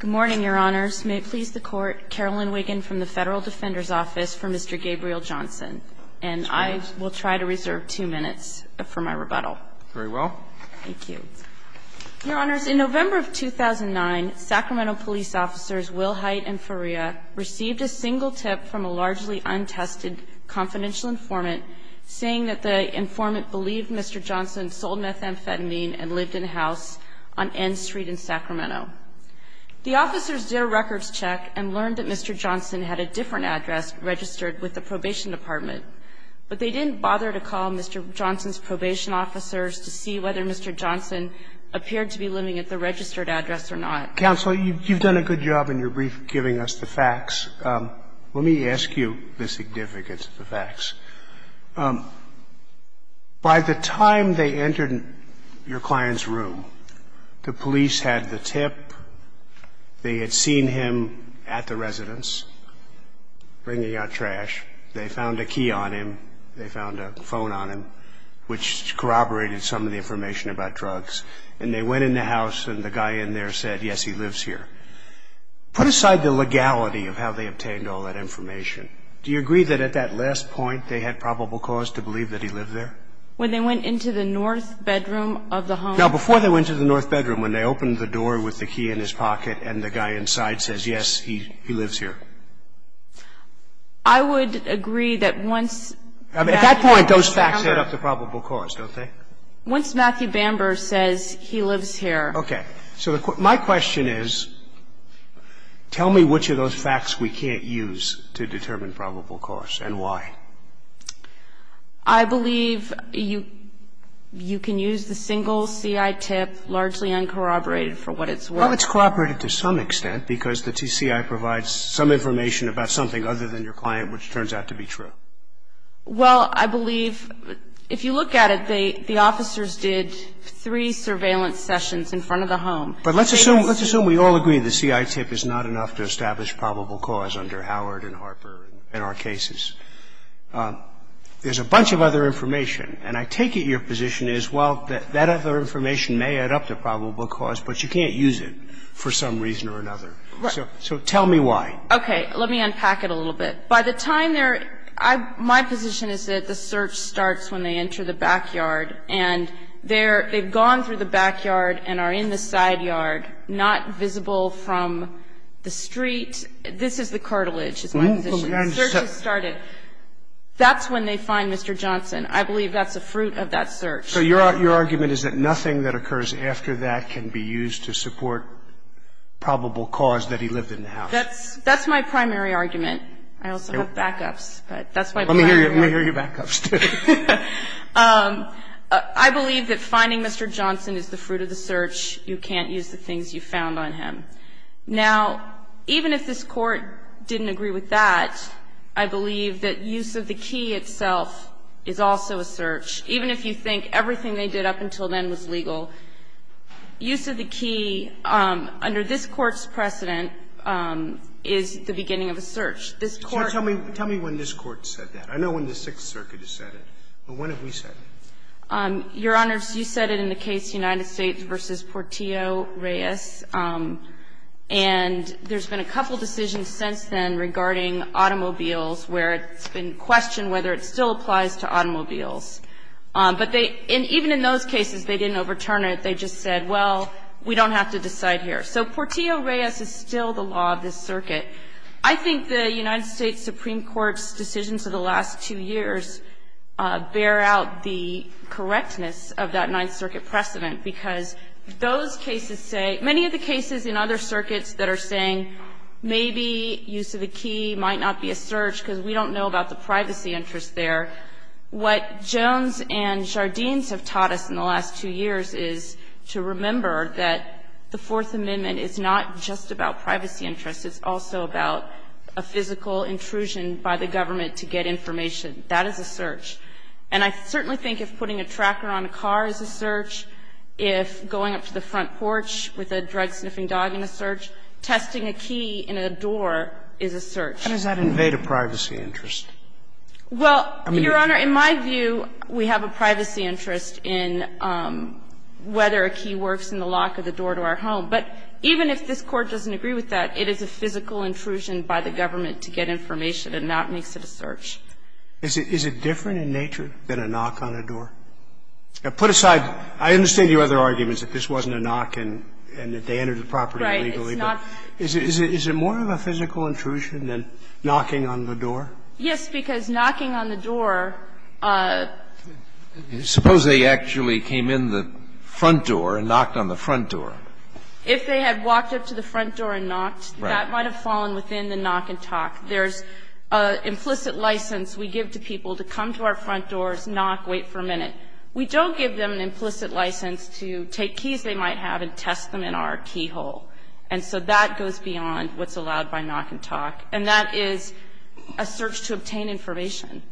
Good morning, Your Honors. May it please the Court, Carolyn Wiggin from the Federal Defender's Office for Mr. Gabriel Johnson. And I will try to reserve two minutes for my rebuttal. Very well. Thank you. Your Honors, in November of 2009, Sacramento police officers Will Hite and Faria received a single tip from a largely untested confidential informant saying that the informant believed Mr. Johnson sold methamphetamine and lived in a house on N Street in Sacramento. The officers did a records check and learned that Mr. Johnson had a different address registered with the probation department. But they didn't bother to call Mr. Johnson's probation officers to see whether Mr. Johnson appeared to be living at the registered address or not. Counsel, you've done a good job in your brief giving us the facts. Let me ask you the significance of the facts. By the time they entered your client's room, the police had the tip. They had seen him at the residence bringing out trash. They found a key on him. They found a phone on him, which corroborated some of the information about drugs. And they went in the house and the guy in there said, yes, he lives here. Put aside the legality of how they obtained all that information. Do you agree that at that last point they had probable cause to believe that he lived there? When they went into the north bedroom of the home? Now, before they went to the north bedroom, when they opened the door with the key in his pocket and the guy inside says, yes, he lives here? I would agree that once Matthew Bamber... At that point, those facts add up to probable cause, don't they? Once Matthew Bamber says he lives here. Okay. So my question is, tell me which of those facts we can't use to determine probable cause and why. I believe you can use the single CI tip, largely uncorroborated, for what it's worth. Well, it's corroborated to some extent because the TCI provides some information about something other than your client, which turns out to be true. Well, I believe if you look at it, the officers did three surveillance sessions in front of the home. But let's assume we all agree the CI tip is not enough to establish probable cause under Howard and Harper and our cases. There's a bunch of other information, and I take it your position is, well, that other information may add up to probable cause, but you can't use it for some reason or another. Right. So tell me why. Okay. Let me unpack it a little bit. By the time they're – my position is that the search starts when they enter the backyard, and they've gone through the backyard and are in the side yard, not visible from the street. This is the cartilage is my position. The search has started. That's when they find Mr. Johnson. I believe that's a fruit of that search. So your argument is that nothing that occurs after that can be used to support probable cause, that he lived in the house. That's my primary argument. I also have backups, but that's my primary argument. Let me hear your backups, too. I believe that finding Mr. Johnson is the fruit of the search. You can't use the things you found on him. Now, even if this Court didn't agree with that, I believe that use of the key itself is also a search. Even if you think everything they did up until then was legal, use of the key under this Court's precedent is the beginning of a search. This Court – Tell me when this Court said that. I know when the Sixth Circuit has said it. But when have we said it? Your Honors, you said it in the case United States v. Portillo-Reyes. And there's been a couple decisions since then regarding automobiles where it's been questioned whether it still applies to automobiles. But they – and even in those cases, they didn't overturn it. They just said, well, we don't have to decide here. So Portillo-Reyes is still the law of this circuit. I think the United States Supreme Court's decisions of the last two years bear out the correctness of that Ninth Circuit precedent, because those cases say – many of the cases in other circuits that are saying maybe use of a key might not be a search because we don't know about the privacy interest there, what Jones and Jardines have taught us in the last two years is to remember that the Fourth Amendment is not just about privacy interests. It's also about a physical intrusion by the government to get information. That is a search. And I certainly think if putting a tracker on a car is a search, if going up to the front porch with a drug-sniffing dog in a search, testing a key in a door is a search. And does that invade a privacy interest? Well, Your Honor, in my view, we have a privacy interest in whether a key works in the lock of the door to our home. But even if this Court doesn't agree with that, it is a physical intrusion by the government to get information, and that makes it a search. Is it different in nature than a knock on a door? Put aside – I understand your other arguments that this wasn't a knock and that they entered the property illegally, but is it more of a physical intrusion than knocking on the door? Yes, because knocking on the door – Suppose they actually came in the front door and knocked on the front door. If they had walked up to the front door and knocked, that might have fallen within the knock and talk. There's an implicit license we give to people to come to our front doors, knock, wait for a minute. We don't give them an implicit license to take keys they might have and test them in our keyhole. And so that goes beyond what's allowed by knock and talk. And that is a search to obtain information.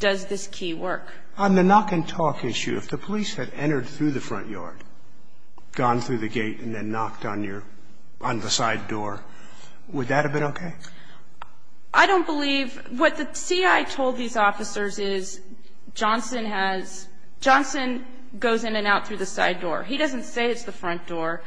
Does this key work? On the knock and talk issue, if the police had entered through the front yard, gone through the gate, and then knocked on your – on the side door, would that have been okay? I don't believe – what the CI told these officers is Johnson has – Johnson goes in and out through the side door. He doesn't say it's the front door.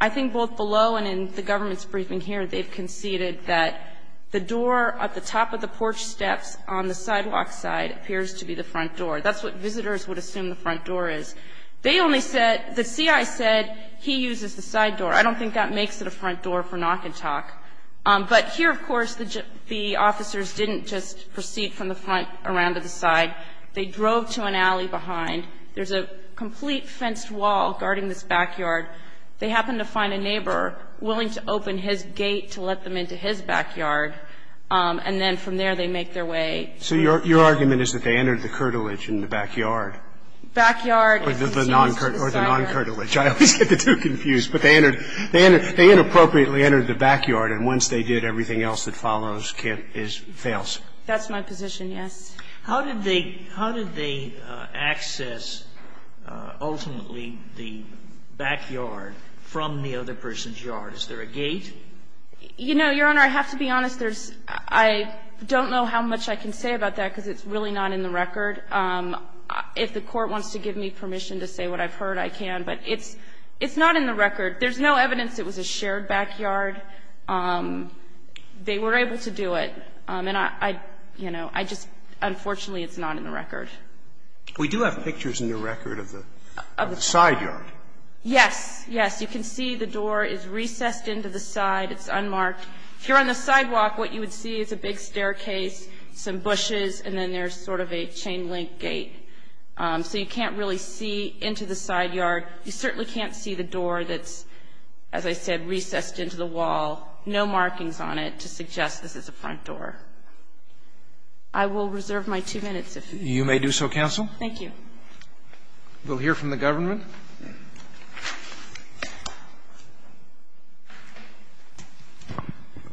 I think both below and in the government's briefing here, they've conceded that the door at the top of the porch steps on the sidewalk side appears to be the front door. That's what visitors would assume the front door is. They only said – the CI said he uses the side door. I don't think that makes it a front door for knock and talk. But here, of course, the officers didn't just proceed from the front around to the side. They drove to an alley behind. There's a complete fenced wall guarding this backyard. They happen to find a neighbor willing to open his gate to let them into his backyard. And then from there, they make their way through. So your argument is that they entered the curtilage in the backyard? Backyard. Or the non-curtilage. I always get the two confused. But they entered – they inappropriately entered the backyard, and once they did, everything else that follows can't – fails. That's my position, yes. How did they – how did they access, ultimately, the backyard from the other person's yard? Is there a gate? You know, Your Honor, I have to be honest. There's – I don't know how much I can say about that, because it's really not in the record. If the Court wants to give me permission to say what I've heard, I can. But it's – it's not in the record. There's no evidence it was a shared backyard. They were able to do it. And I – you know, I just – unfortunately, it's not in the record. We do have pictures in the record of the side yard. Yes. Yes. You can see the door is recessed into the side. It's unmarked. If you're on the sidewalk, what you would see is a big staircase, some bushes, and then there's sort of a chain link gate. So you can't really see into the side yard. You certainly can't see the door that's, as I said, recessed into the wall, no markings on it to suggest this is a front door. I will reserve my two minutes if you don't mind. You may do so, counsel. Thank you. We'll hear from the government.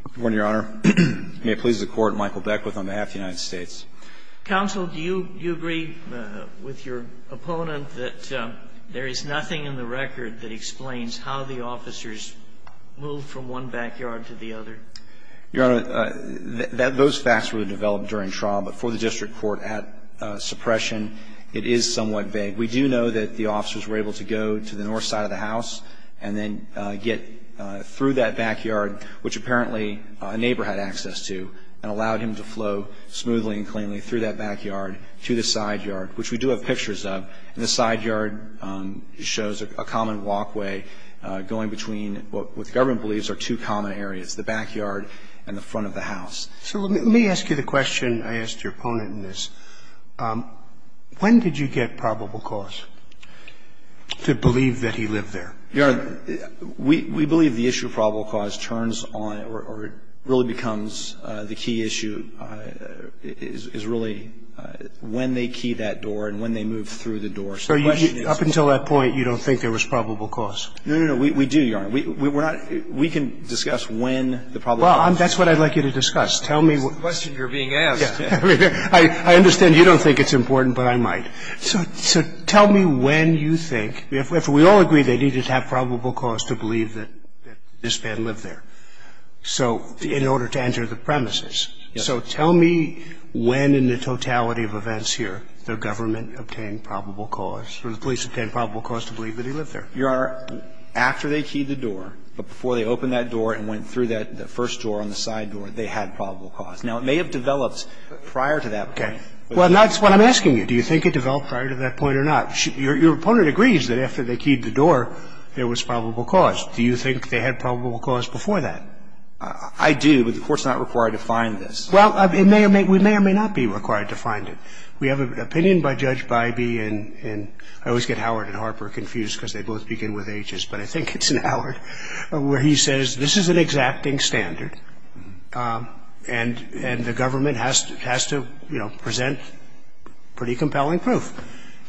Good morning, Your Honor. May it please the Court, Michael Beckwith on behalf of the United States. Counsel, do you – do you agree with your opponent that there is nothing in the record that explains how the officers moved from one backyard to the other? Your Honor, those facts were developed during trial, but for the district court at suppression, it is somewhat vague. We do know that the officers were able to go to the north side of the house and then get through that backyard, which apparently a neighbor had access to, and allowed him to flow smoothly and cleanly through that backyard to the side yard, which we do have pictures of. And the side yard shows a common walkway going between what the government believes are two common areas. It's the backyard and the front of the house. So let me ask you the question I asked your opponent in this. When did you get probable cause to believe that he lived there? Your Honor, we believe the issue of probable cause turns on or really becomes the key issue is really when they key that door and when they move through the door. So the question is – Up until that point, you don't think there was probable cause? No, no, no. We do, Your Honor. We're not – we can discuss when the probable cause was. Well, that's what I'd like you to discuss. Tell me what – That's the question you're being asked. I understand you don't think it's important, but I might. So tell me when you think, if we all agree they needed to have probable cause to believe that this man lived there. So in order to enter the premises. So tell me when in the totality of events here the government obtained probable cause or the police obtained probable cause to believe that he lived there. Your Honor, after they keyed the door, but before they opened that door and went through that first door on the side door, they had probable cause. Now, it may have developed prior to that point. Okay. Well, that's what I'm asking you. Do you think it developed prior to that point or not? Your opponent agrees that after they keyed the door, there was probable cause. Do you think they had probable cause before that? I do, but the Court's not required to find this. Well, it may or may – we may or may not be required to find it. We have an opinion by Judge Bybee, and I always get Howard and Harper confused because they both begin with Hs, but I think it's Howard, where he says this is an exacting standard and the government has to, you know, present pretty compelling proof.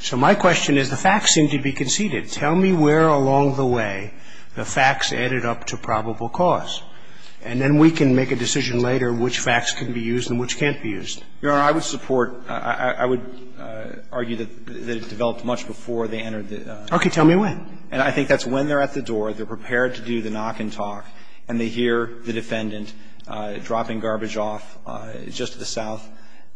So my question is the facts seem to be conceded. Tell me where along the way the facts added up to probable cause, and then we can make a decision later which facts can be used and which can't be used. Your Honor, I would support – I would argue that it developed much before they entered the premises. Okay. Tell me when. And I think that's when they're at the door, they're prepared to do the knock and talk, and they hear the defendant dropping garbage off just to the south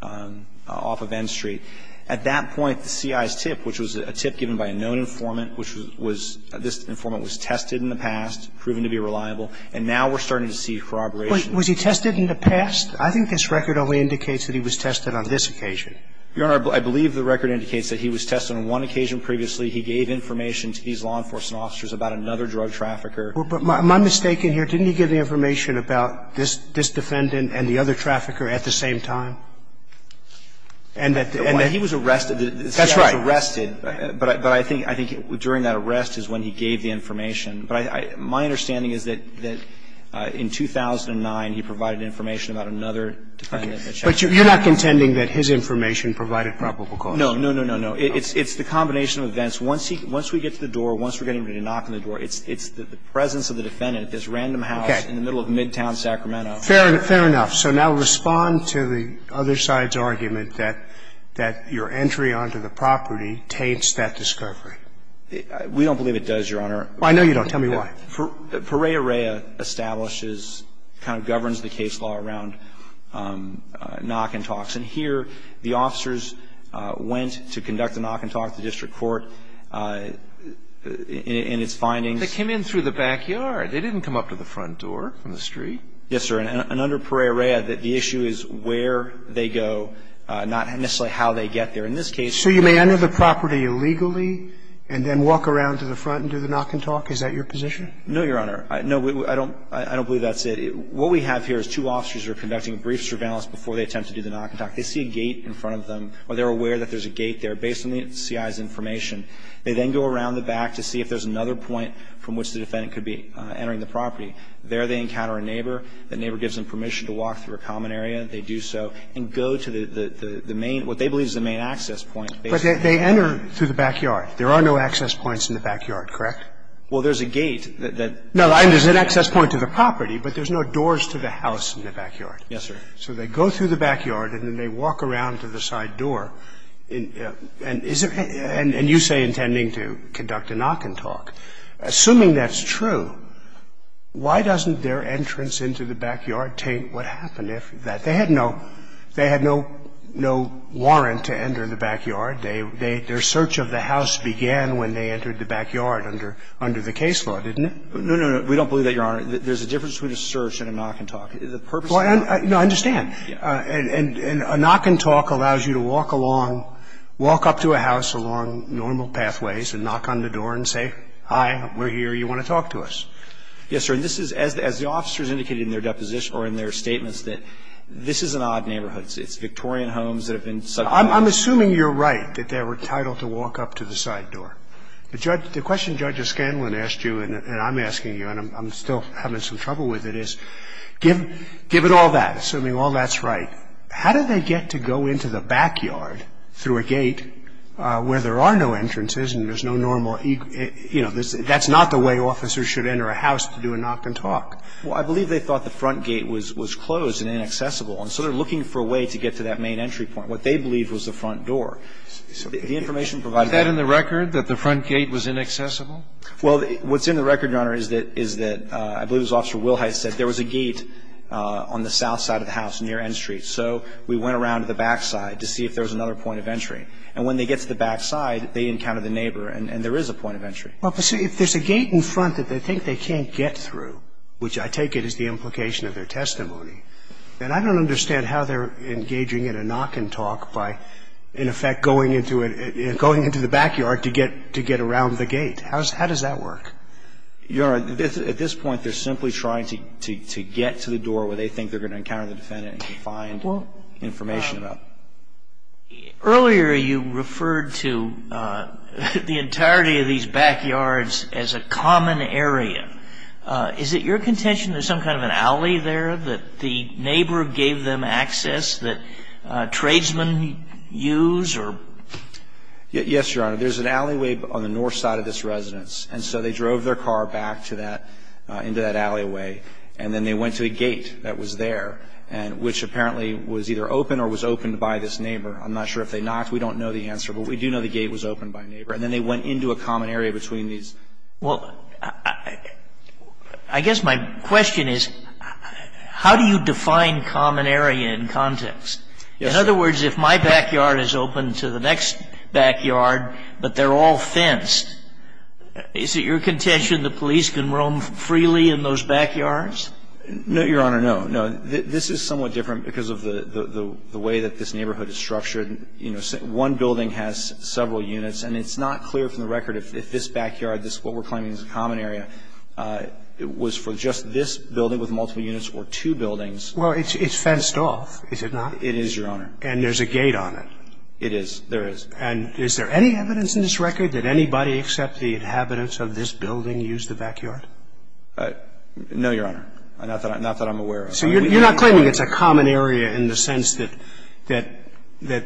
off of N Street. At that point, the CI's tip, which was a tip given by a known informant, which was – this informant was tested in the past, proven to be reliable, and now we're starting to see corroboration. Wait. Was he tested in the past? I think this record only indicates that he was tested on this occasion. Your Honor, I believe the record indicates that he was tested on one occasion previously. He gave information to these law enforcement officers about another drug trafficker. Well, but my mistake in here, didn't he give the information about this defendant and the other trafficker at the same time? And that he was arrested. That's right. The CI was arrested, but I think during that arrest is when he gave the information. But my understanding is that in 2009, he provided information about another defendant. But you're not contending that his information provided probable cause? No, no, no, no, no. It's the combination of events. Once we get to the door, once we're getting ready to knock on the door, it's the presence of the defendant at this random house in the middle of midtown Sacramento. Fair enough. So now respond to the other side's argument that your entry onto the property taints that discovery. We don't believe it does, Your Honor. I know you don't. Tell me why. Pereira Establishes kind of governs the case law around knock and talks. And here, the officers went to conduct a knock and talk at the district court. In its findings they came in through the backyard. They didn't come up to the front door from the street. Yes, sir. And under Pereira, the issue is where they go, not necessarily how they get there. In this case, they're going to the front. So you may enter the property illegally and then walk around to the front and do the knock and talk? Is that your position? No, Your Honor. No, I don't believe that's it. What we have here is two officers are conducting a brief surveillance before they go to the back. They see a gate in front of them, or they're aware that there's a gate there, based on the C.I.'s information. They then go around the back to see if there's another point from which the defendant could be entering the property. There they encounter a neighbor. The neighbor gives them permission to walk through a common area. They do so and go to the main, what they believe is the main access point. But they enter through the backyard. There are no access points in the backyard, correct? Well, there's a gate that goes through the backyard. No, there's an access point to the property, but there's no doors to the house in the backyard. Yes, sir. So they go through the backyard, and then they walk around to the side door. And you say intending to conduct a knock and talk. Assuming that's true, why doesn't their entrance into the backyard taint what happened after that? They had no warrant to enter the backyard. Their search of the house began when they entered the backyard under the case law, didn't it? No, no, we don't believe that, Your Honor. There's a difference between a search and a knock and talk. The purpose of a knock and talk is to walk up to a house along normal pathways and knock on the door and say, hi, we're here, you want to talk to us. Yes, sir. And this is, as the officers indicated in their deposition or in their statements, that this is an odd neighborhood. It's Victorian homes that have been subjected to a knock and talk. I'm assuming you're right, that they were entitled to walk up to the side door. The question Judge Escanlan asked you and I'm asking you, and I'm still having some trouble with it, is give it all that, assuming all that's right. How did they get to go into the backyard through a gate where there are no entrances and there's no normal, you know, that's not the way officers should enter a house to do a knock and talk? Well, I believe they thought the front gate was closed and inaccessible, and so they're looking for a way to get to that main entry point. What they believe was the front door. The information provided by the law. Is that in the record, that the front gate was inaccessible? Well, what's in the record, Your Honor, is that I believe it was Officer Wilhite said there was a gate on the south side of the house near N Street. So we went around to the back side to see if there was another point of entry. And when they get to the back side, they encounter the neighbor and there is a point of entry. Well, but see, if there's a gate in front that they think they can't get through, which I take it is the implication of their testimony, then I don't understand how they're engaging in a knock and talk by, in effect, going into it, going into the backyard to get around the gate. How does that work? Your Honor, at this point, they're simply trying to get to the door where they think they're going to encounter the defendant and find information about it. Earlier, you referred to the entirety of these backyards as a common area. Is it your contention there's some kind of an alley there that the neighbor gave Yes, Your Honor. There's an alleyway on the north side of this residence. And so they drove their car back to that, into that alleyway. And then they went to a gate that was there, which apparently was either open or was opened by this neighbor. I'm not sure if they knocked. We don't know the answer, but we do know the gate was opened by a neighbor. And then they went into a common area between these. Well, I guess my question is, how do you define common area in context? In other words, if my backyard is open to the next backyard, but they're all fenced, is it your contention the police can roam freely in those backyards? No, Your Honor, no. No. This is somewhat different because of the way that this neighborhood is structured. You know, one building has several units. And it's not clear from the record if this backyard, what we're claiming is a common area, was for just this building with multiple units or two buildings. Well, it's fenced off, is it not? It is, Your Honor. And there's a gate on it. It is. There is. And is there any evidence in this record that anybody except the inhabitants of this building used the backyard? No, Your Honor. Not that I'm aware of. So you're not claiming it's a common area in the sense that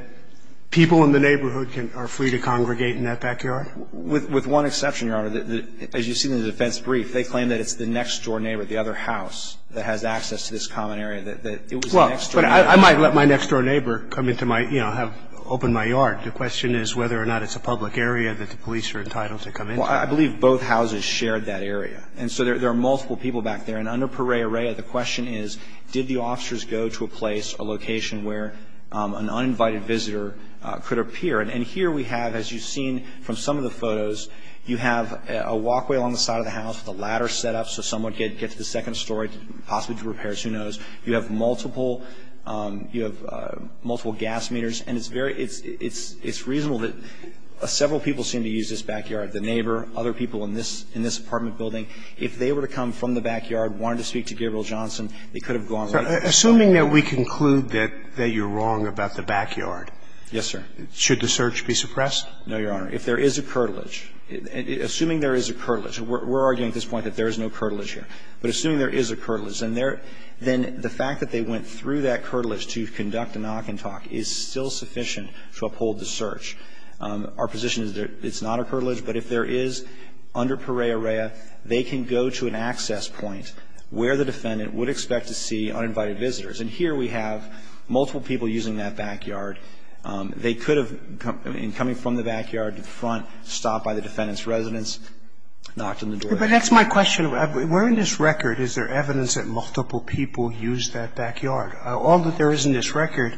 people in the neighborhood are free to congregate in that backyard? With one exception, Your Honor. As you see in the defense brief, they claim that it's the next door neighbor, the other house that has access to this common area, that it was the next door neighbor. Well, but I might let my next door neighbor come into my, you know, have opened my yard. The question is whether or not it's a public area that the police are entitled to come into. Well, I believe both houses shared that area. And so there are multiple people back there. And under Parerea, the question is, did the officers go to a place, a location where an uninvited visitor could appear? And here we have, as you've seen from some of the photos, you have a walkway along the side of the house with a ladder set up so someone could get to the second story, possibly do repairs, who knows. You have multiple gas meters. And it's very – it's reasonable that several people seem to use this backyard, the neighbor, other people in this apartment building. If they were to come from the backyard, wanted to speak to Gabriel Johnson, they could have gone right to the second story. Assuming that we conclude that you're wrong about the backyard. Yes, sir. Should the search be suppressed? No, Your Honor. If there is a curtilage, assuming there is a curtilage, we're arguing at this point that there is no curtilage here. But assuming there is a curtilage, then the fact that they went through that curtilage to conduct a knock-and-talk is still sufficient to uphold the search. Our position is that it's not a curtilage, but if there is, under Perea Rea, they can go to an access point where the defendant would expect to see uninvited visitors. And here we have multiple people using that backyard. They could have, in coming from the backyard to the front, stopped by the defendant's residence, knocked on the door. But that's my question. We're in this record. Is there evidence that multiple people used that backyard? All that there is in this record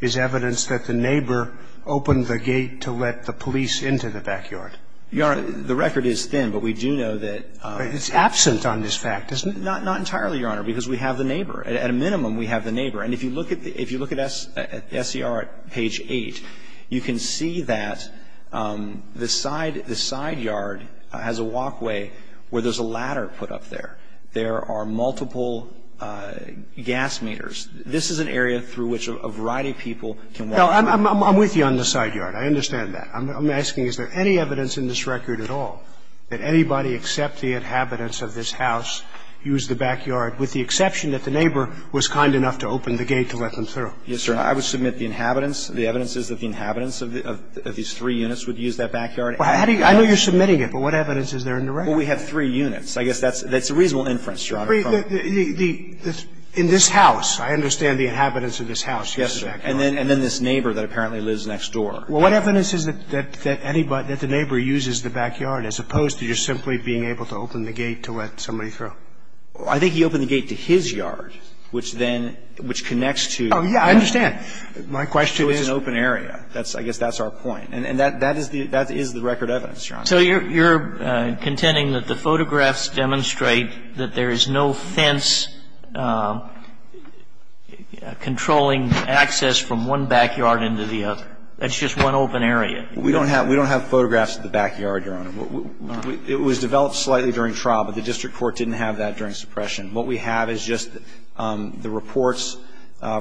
is evidence that the neighbor opened the gate to let the police into the backyard. Your Honor, the record is thin, but we do know that the defendant was there. It's absent on this fact, isn't it? Not entirely, Your Honor, because we have the neighbor. At a minimum, we have the neighbor. And if you look at the SER at page 8, you can see that the side yard has a walkway where there's a ladder put up there. There are multiple gas meters. This is an area through which a variety of people can walk. No, I'm with you on the side yard. I understand that. I'm asking, is there any evidence in this record at all that anybody except the inhabitants of this house used the backyard, with the exception that the neighbor was kind enough to open the gate to let them through? Yes, sir. I would submit the inhabitants, the evidences of the inhabitants of these three units would use that backyard. I know you're submitting it, but what evidence is there in the record? Well, we have three units. I guess that's a reasonable inference, Your Honor. Three? The – in this house, I understand the inhabitants of this house used the backyard. Yes, sir. And then this neighbor that apparently lives next door. Well, what evidence is it that anybody – that the neighbor uses the backyard, as opposed to just simply being able to open the gate to let somebody through? I think he opened the gate to his yard, which then – which connects to – Oh, yeah. I understand. My question is – So it's an open area. That's – I guess that's our point. And that is the record evidence, Your Honor. So you're – you're contending that the photographs demonstrate that there is no fence controlling access from one backyard into the other. That's just one open area. We don't have – we don't have photographs of the backyard, Your Honor. It was developed slightly during trial, but the district court didn't have that during suppression. What we have is just the reports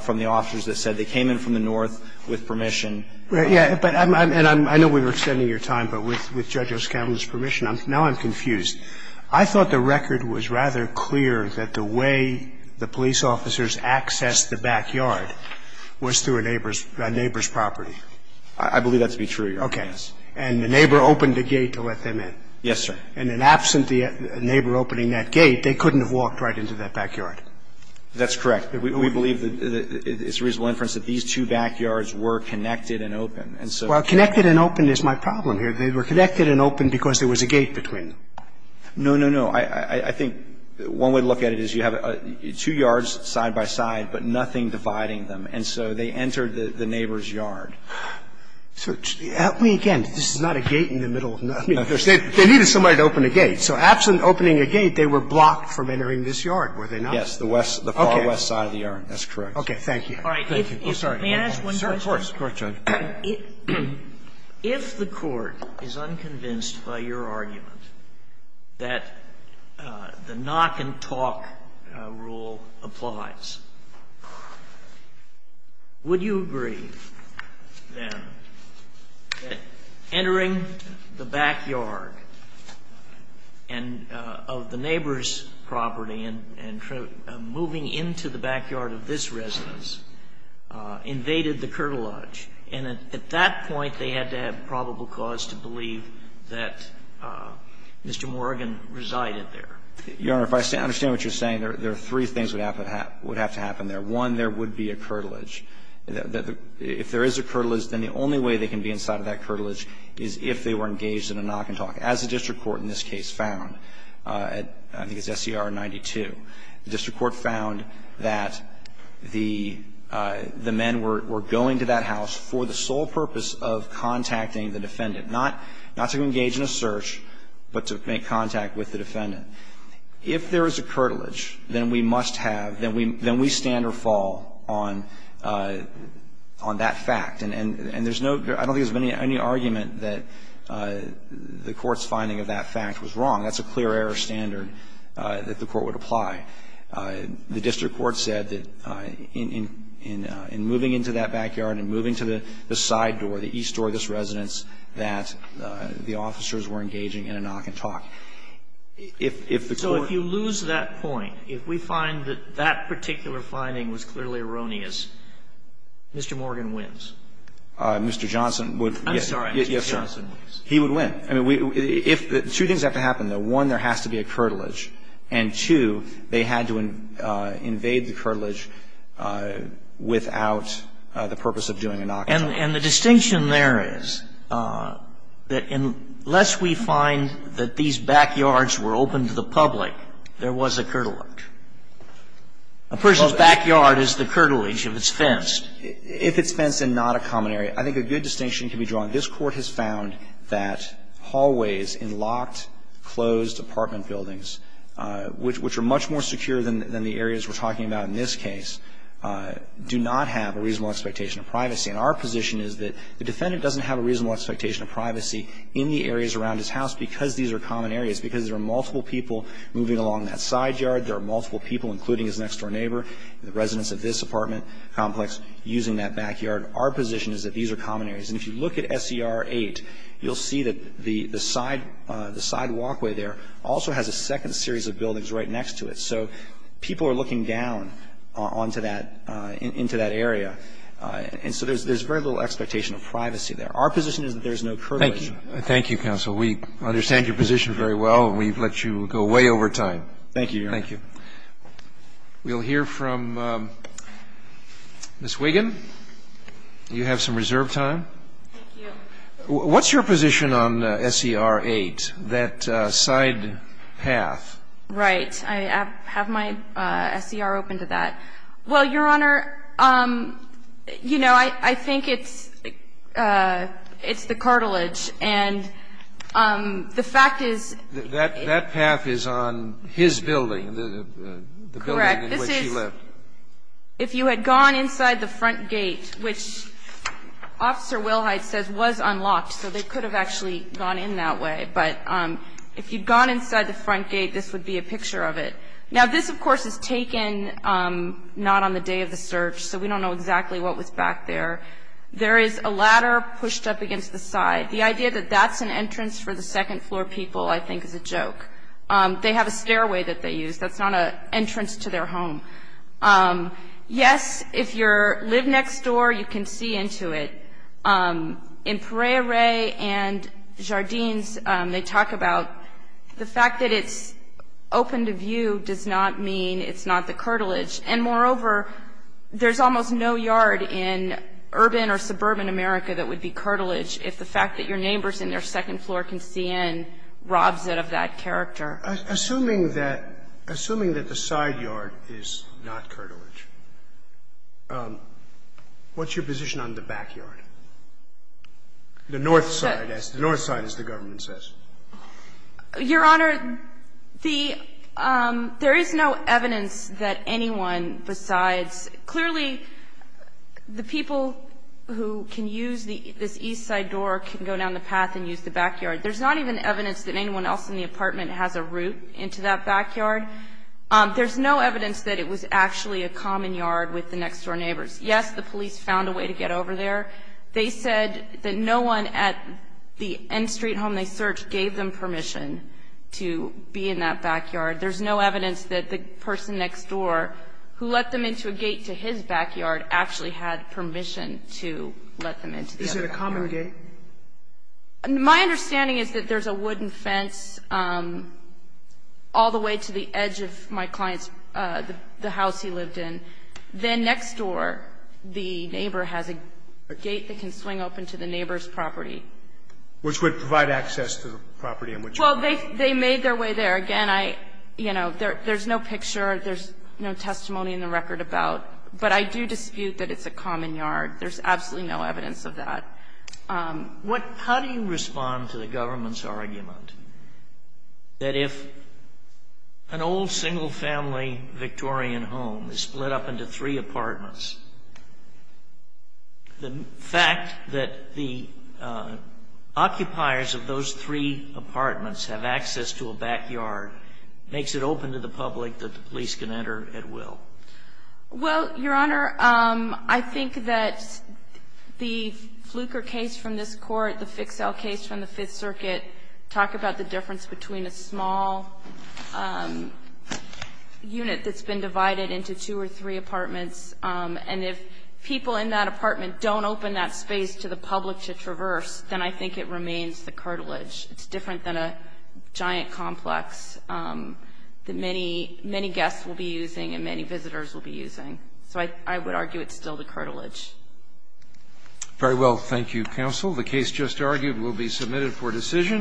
from the officers that said they came in from the north with permission. Right. Yeah. But I'm – and I know we were extending your time, but with Judge O'Scanlan's permission, I'm – now I'm confused. I thought the record was rather clear that the way the police officers accessed the backyard was through a neighbor's – a neighbor's property. I believe that to be true, Your Honor. Okay. And the neighbor opened the gate to let them in. Yes, sir. And in absent the neighbor opening that gate, they couldn't have walked right into that backyard. That's correct. We believe that it's a reasonable inference that these two backyards were connected and open. And so – Well, connected and open is my problem here. They were connected and open because there was a gate between them. No, no, no. I think one way to look at it is you have two yards side by side, but nothing dividing them. And so they entered the neighbor's yard. So help me again. This is not a gate in the middle of the – I mean, they needed somebody to open a gate. So absent opening a gate, they were blocked from entering this yard, were they not? Yes. The west – the far west side. That's correct. Okay. Thank you. All right. Thank you. I'm sorry. May I ask one question? Of course. Of course, Judge. If the Court is unconvinced by your argument that the knock-and-talk rule applies, would you agree, then, that entering the backyard and – of the neighbor's property and moving into the backyard of this residence invaded the curtilage? And at that point, they had to have probable cause to believe that Mr. Morgan resided there. Your Honor, if I understand what you're saying, there are three things that would have to happen there. One, there would be a curtilage. If there is a curtilage, then the only way they can be inside of that curtilage is if they were engaged in a knock-and-talk, as the district court in this case found. I think it's SCR 92. The district court found that the men were going to that house for the sole purpose of contacting the defendant, not to engage in a search, but to make contact with the defendant. If there is a curtilage, then we must have – then we stand or fall on that fact. And there's no – I don't think there's any argument that the Court's finding of that fact was wrong. That's a clear-error standard that the Court would apply. The district court said that in moving into that backyard, in moving to the side door, the east door of this residence, that the officers were engaging in a knock-and-talk. If the Court – So if you lose that point, if we find that that particular finding was clearly erroneous, Mr. Morgan wins? Mr. Johnson would – yes, sir. Mr. Johnson wins. He would win. I mean, if – two things have to happen, though. One, there has to be a curtilage. And, two, they had to invade the curtilage without the purpose of doing a knock-and-talk. And the distinction there is that unless we find that these backyards were open to the public, there was a curtilage. A person's backyard is the curtilage if it's fenced. If it's fenced and not a common area. I think a good distinction can be drawn. This Court has found that hallways in locked, closed apartment buildings, which are much more secure than the areas we're talking about in this case, do not have a reasonable expectation of privacy. And our position is that the defendant doesn't have a reasonable expectation of privacy in the areas around his house because these are common areas, because there are multiple people moving along that side yard, there are multiple people, including his next-door neighbor, the residents of this apartment complex, using that backyard. Our position is that these are common areas. And if you look at SER 8, you'll see that the side walkway there also has a second series of buildings right next to it. So people are looking down onto that, into that area. And so there's very little expectation of privacy there. Our position is that there's no curtilage. Thank you. Thank you, counsel. We understand your position very well, and we've let you go way over time. Thank you, Your Honor. Thank you. We'll hear from Ms. Wiggin. You have some reserve time. Thank you. What's your position on SER 8, that side path? Right. I have my SER open to that. Well, Your Honor, you know, I think it's the cartilage. And the fact is that it's the cartilage. Correct. This is if you had gone inside the front gate, which Officer Wilhite says was unlocked, so they could have actually gone in that way. But if you'd gone inside the front gate, this would be a picture of it. Now, this, of course, is taken not on the day of the search, so we don't know exactly what was back there. There is a ladder pushed up against the side. The idea that that's an entrance for the second-floor people, I think, is a joke. They have a stairway that they use. That's not an entrance to their home. Yes, if you live next door, you can see into it. In Pereira and Jardines, they talk about the fact that it's open to view does not mean it's not the cartilage. And, moreover, there's almost no yard in urban or suburban America that would be cartilage if the fact that your neighbor's in their second floor can see in robs it of that character. Assuming that the side yard is not cartilage, what's your position on the backyard, the north side, as the north side, as the government says? Your Honor, there is no evidence that anyone besides clearly the people who can use this east side door can go down the path and use the backyard. There's not even evidence that anyone else in the apartment has a route into that backyard. There's no evidence that it was actually a common yard with the next-door neighbors. Yes, the police found a way to get over there. They said that no one at the N Street home they searched gave them permission to be in that backyard. There's no evidence that the person next door who let them into a gate to his backyard actually had permission to let them into the other backyard. Is it a common gate? My understanding is that there's a wooden fence all the way to the edge of my client's the house he lived in. Then next door, the neighbor has a gate that can swing open to the neighbor's property. Which would provide access to the property in which you live. Well, they made their way there. Again, I, you know, there's no picture, there's no testimony in the record about. But I do dispute that it's a common yard. There's absolutely no evidence of that. How do you respond to the government's argument that if an old single-family Victorian home is split up into three apartments, the fact that the occupiers of those three apartments have access to a backyard makes it open to the public that the police can enter at will? Well, Your Honor, I think that the Fluker case from this Court, the Fixell case from the Fifth Circuit talk about the difference between a small unit that's been divided into two or three apartments. And if people in that apartment don't open that space to the public to traverse, then I think it remains the cartilage. It's different than a giant complex that many guests will be using and many visitors will be using. So I would argue it's still the cartilage. Very well. Thank you, counsel. The case just argued will be submitted for decision.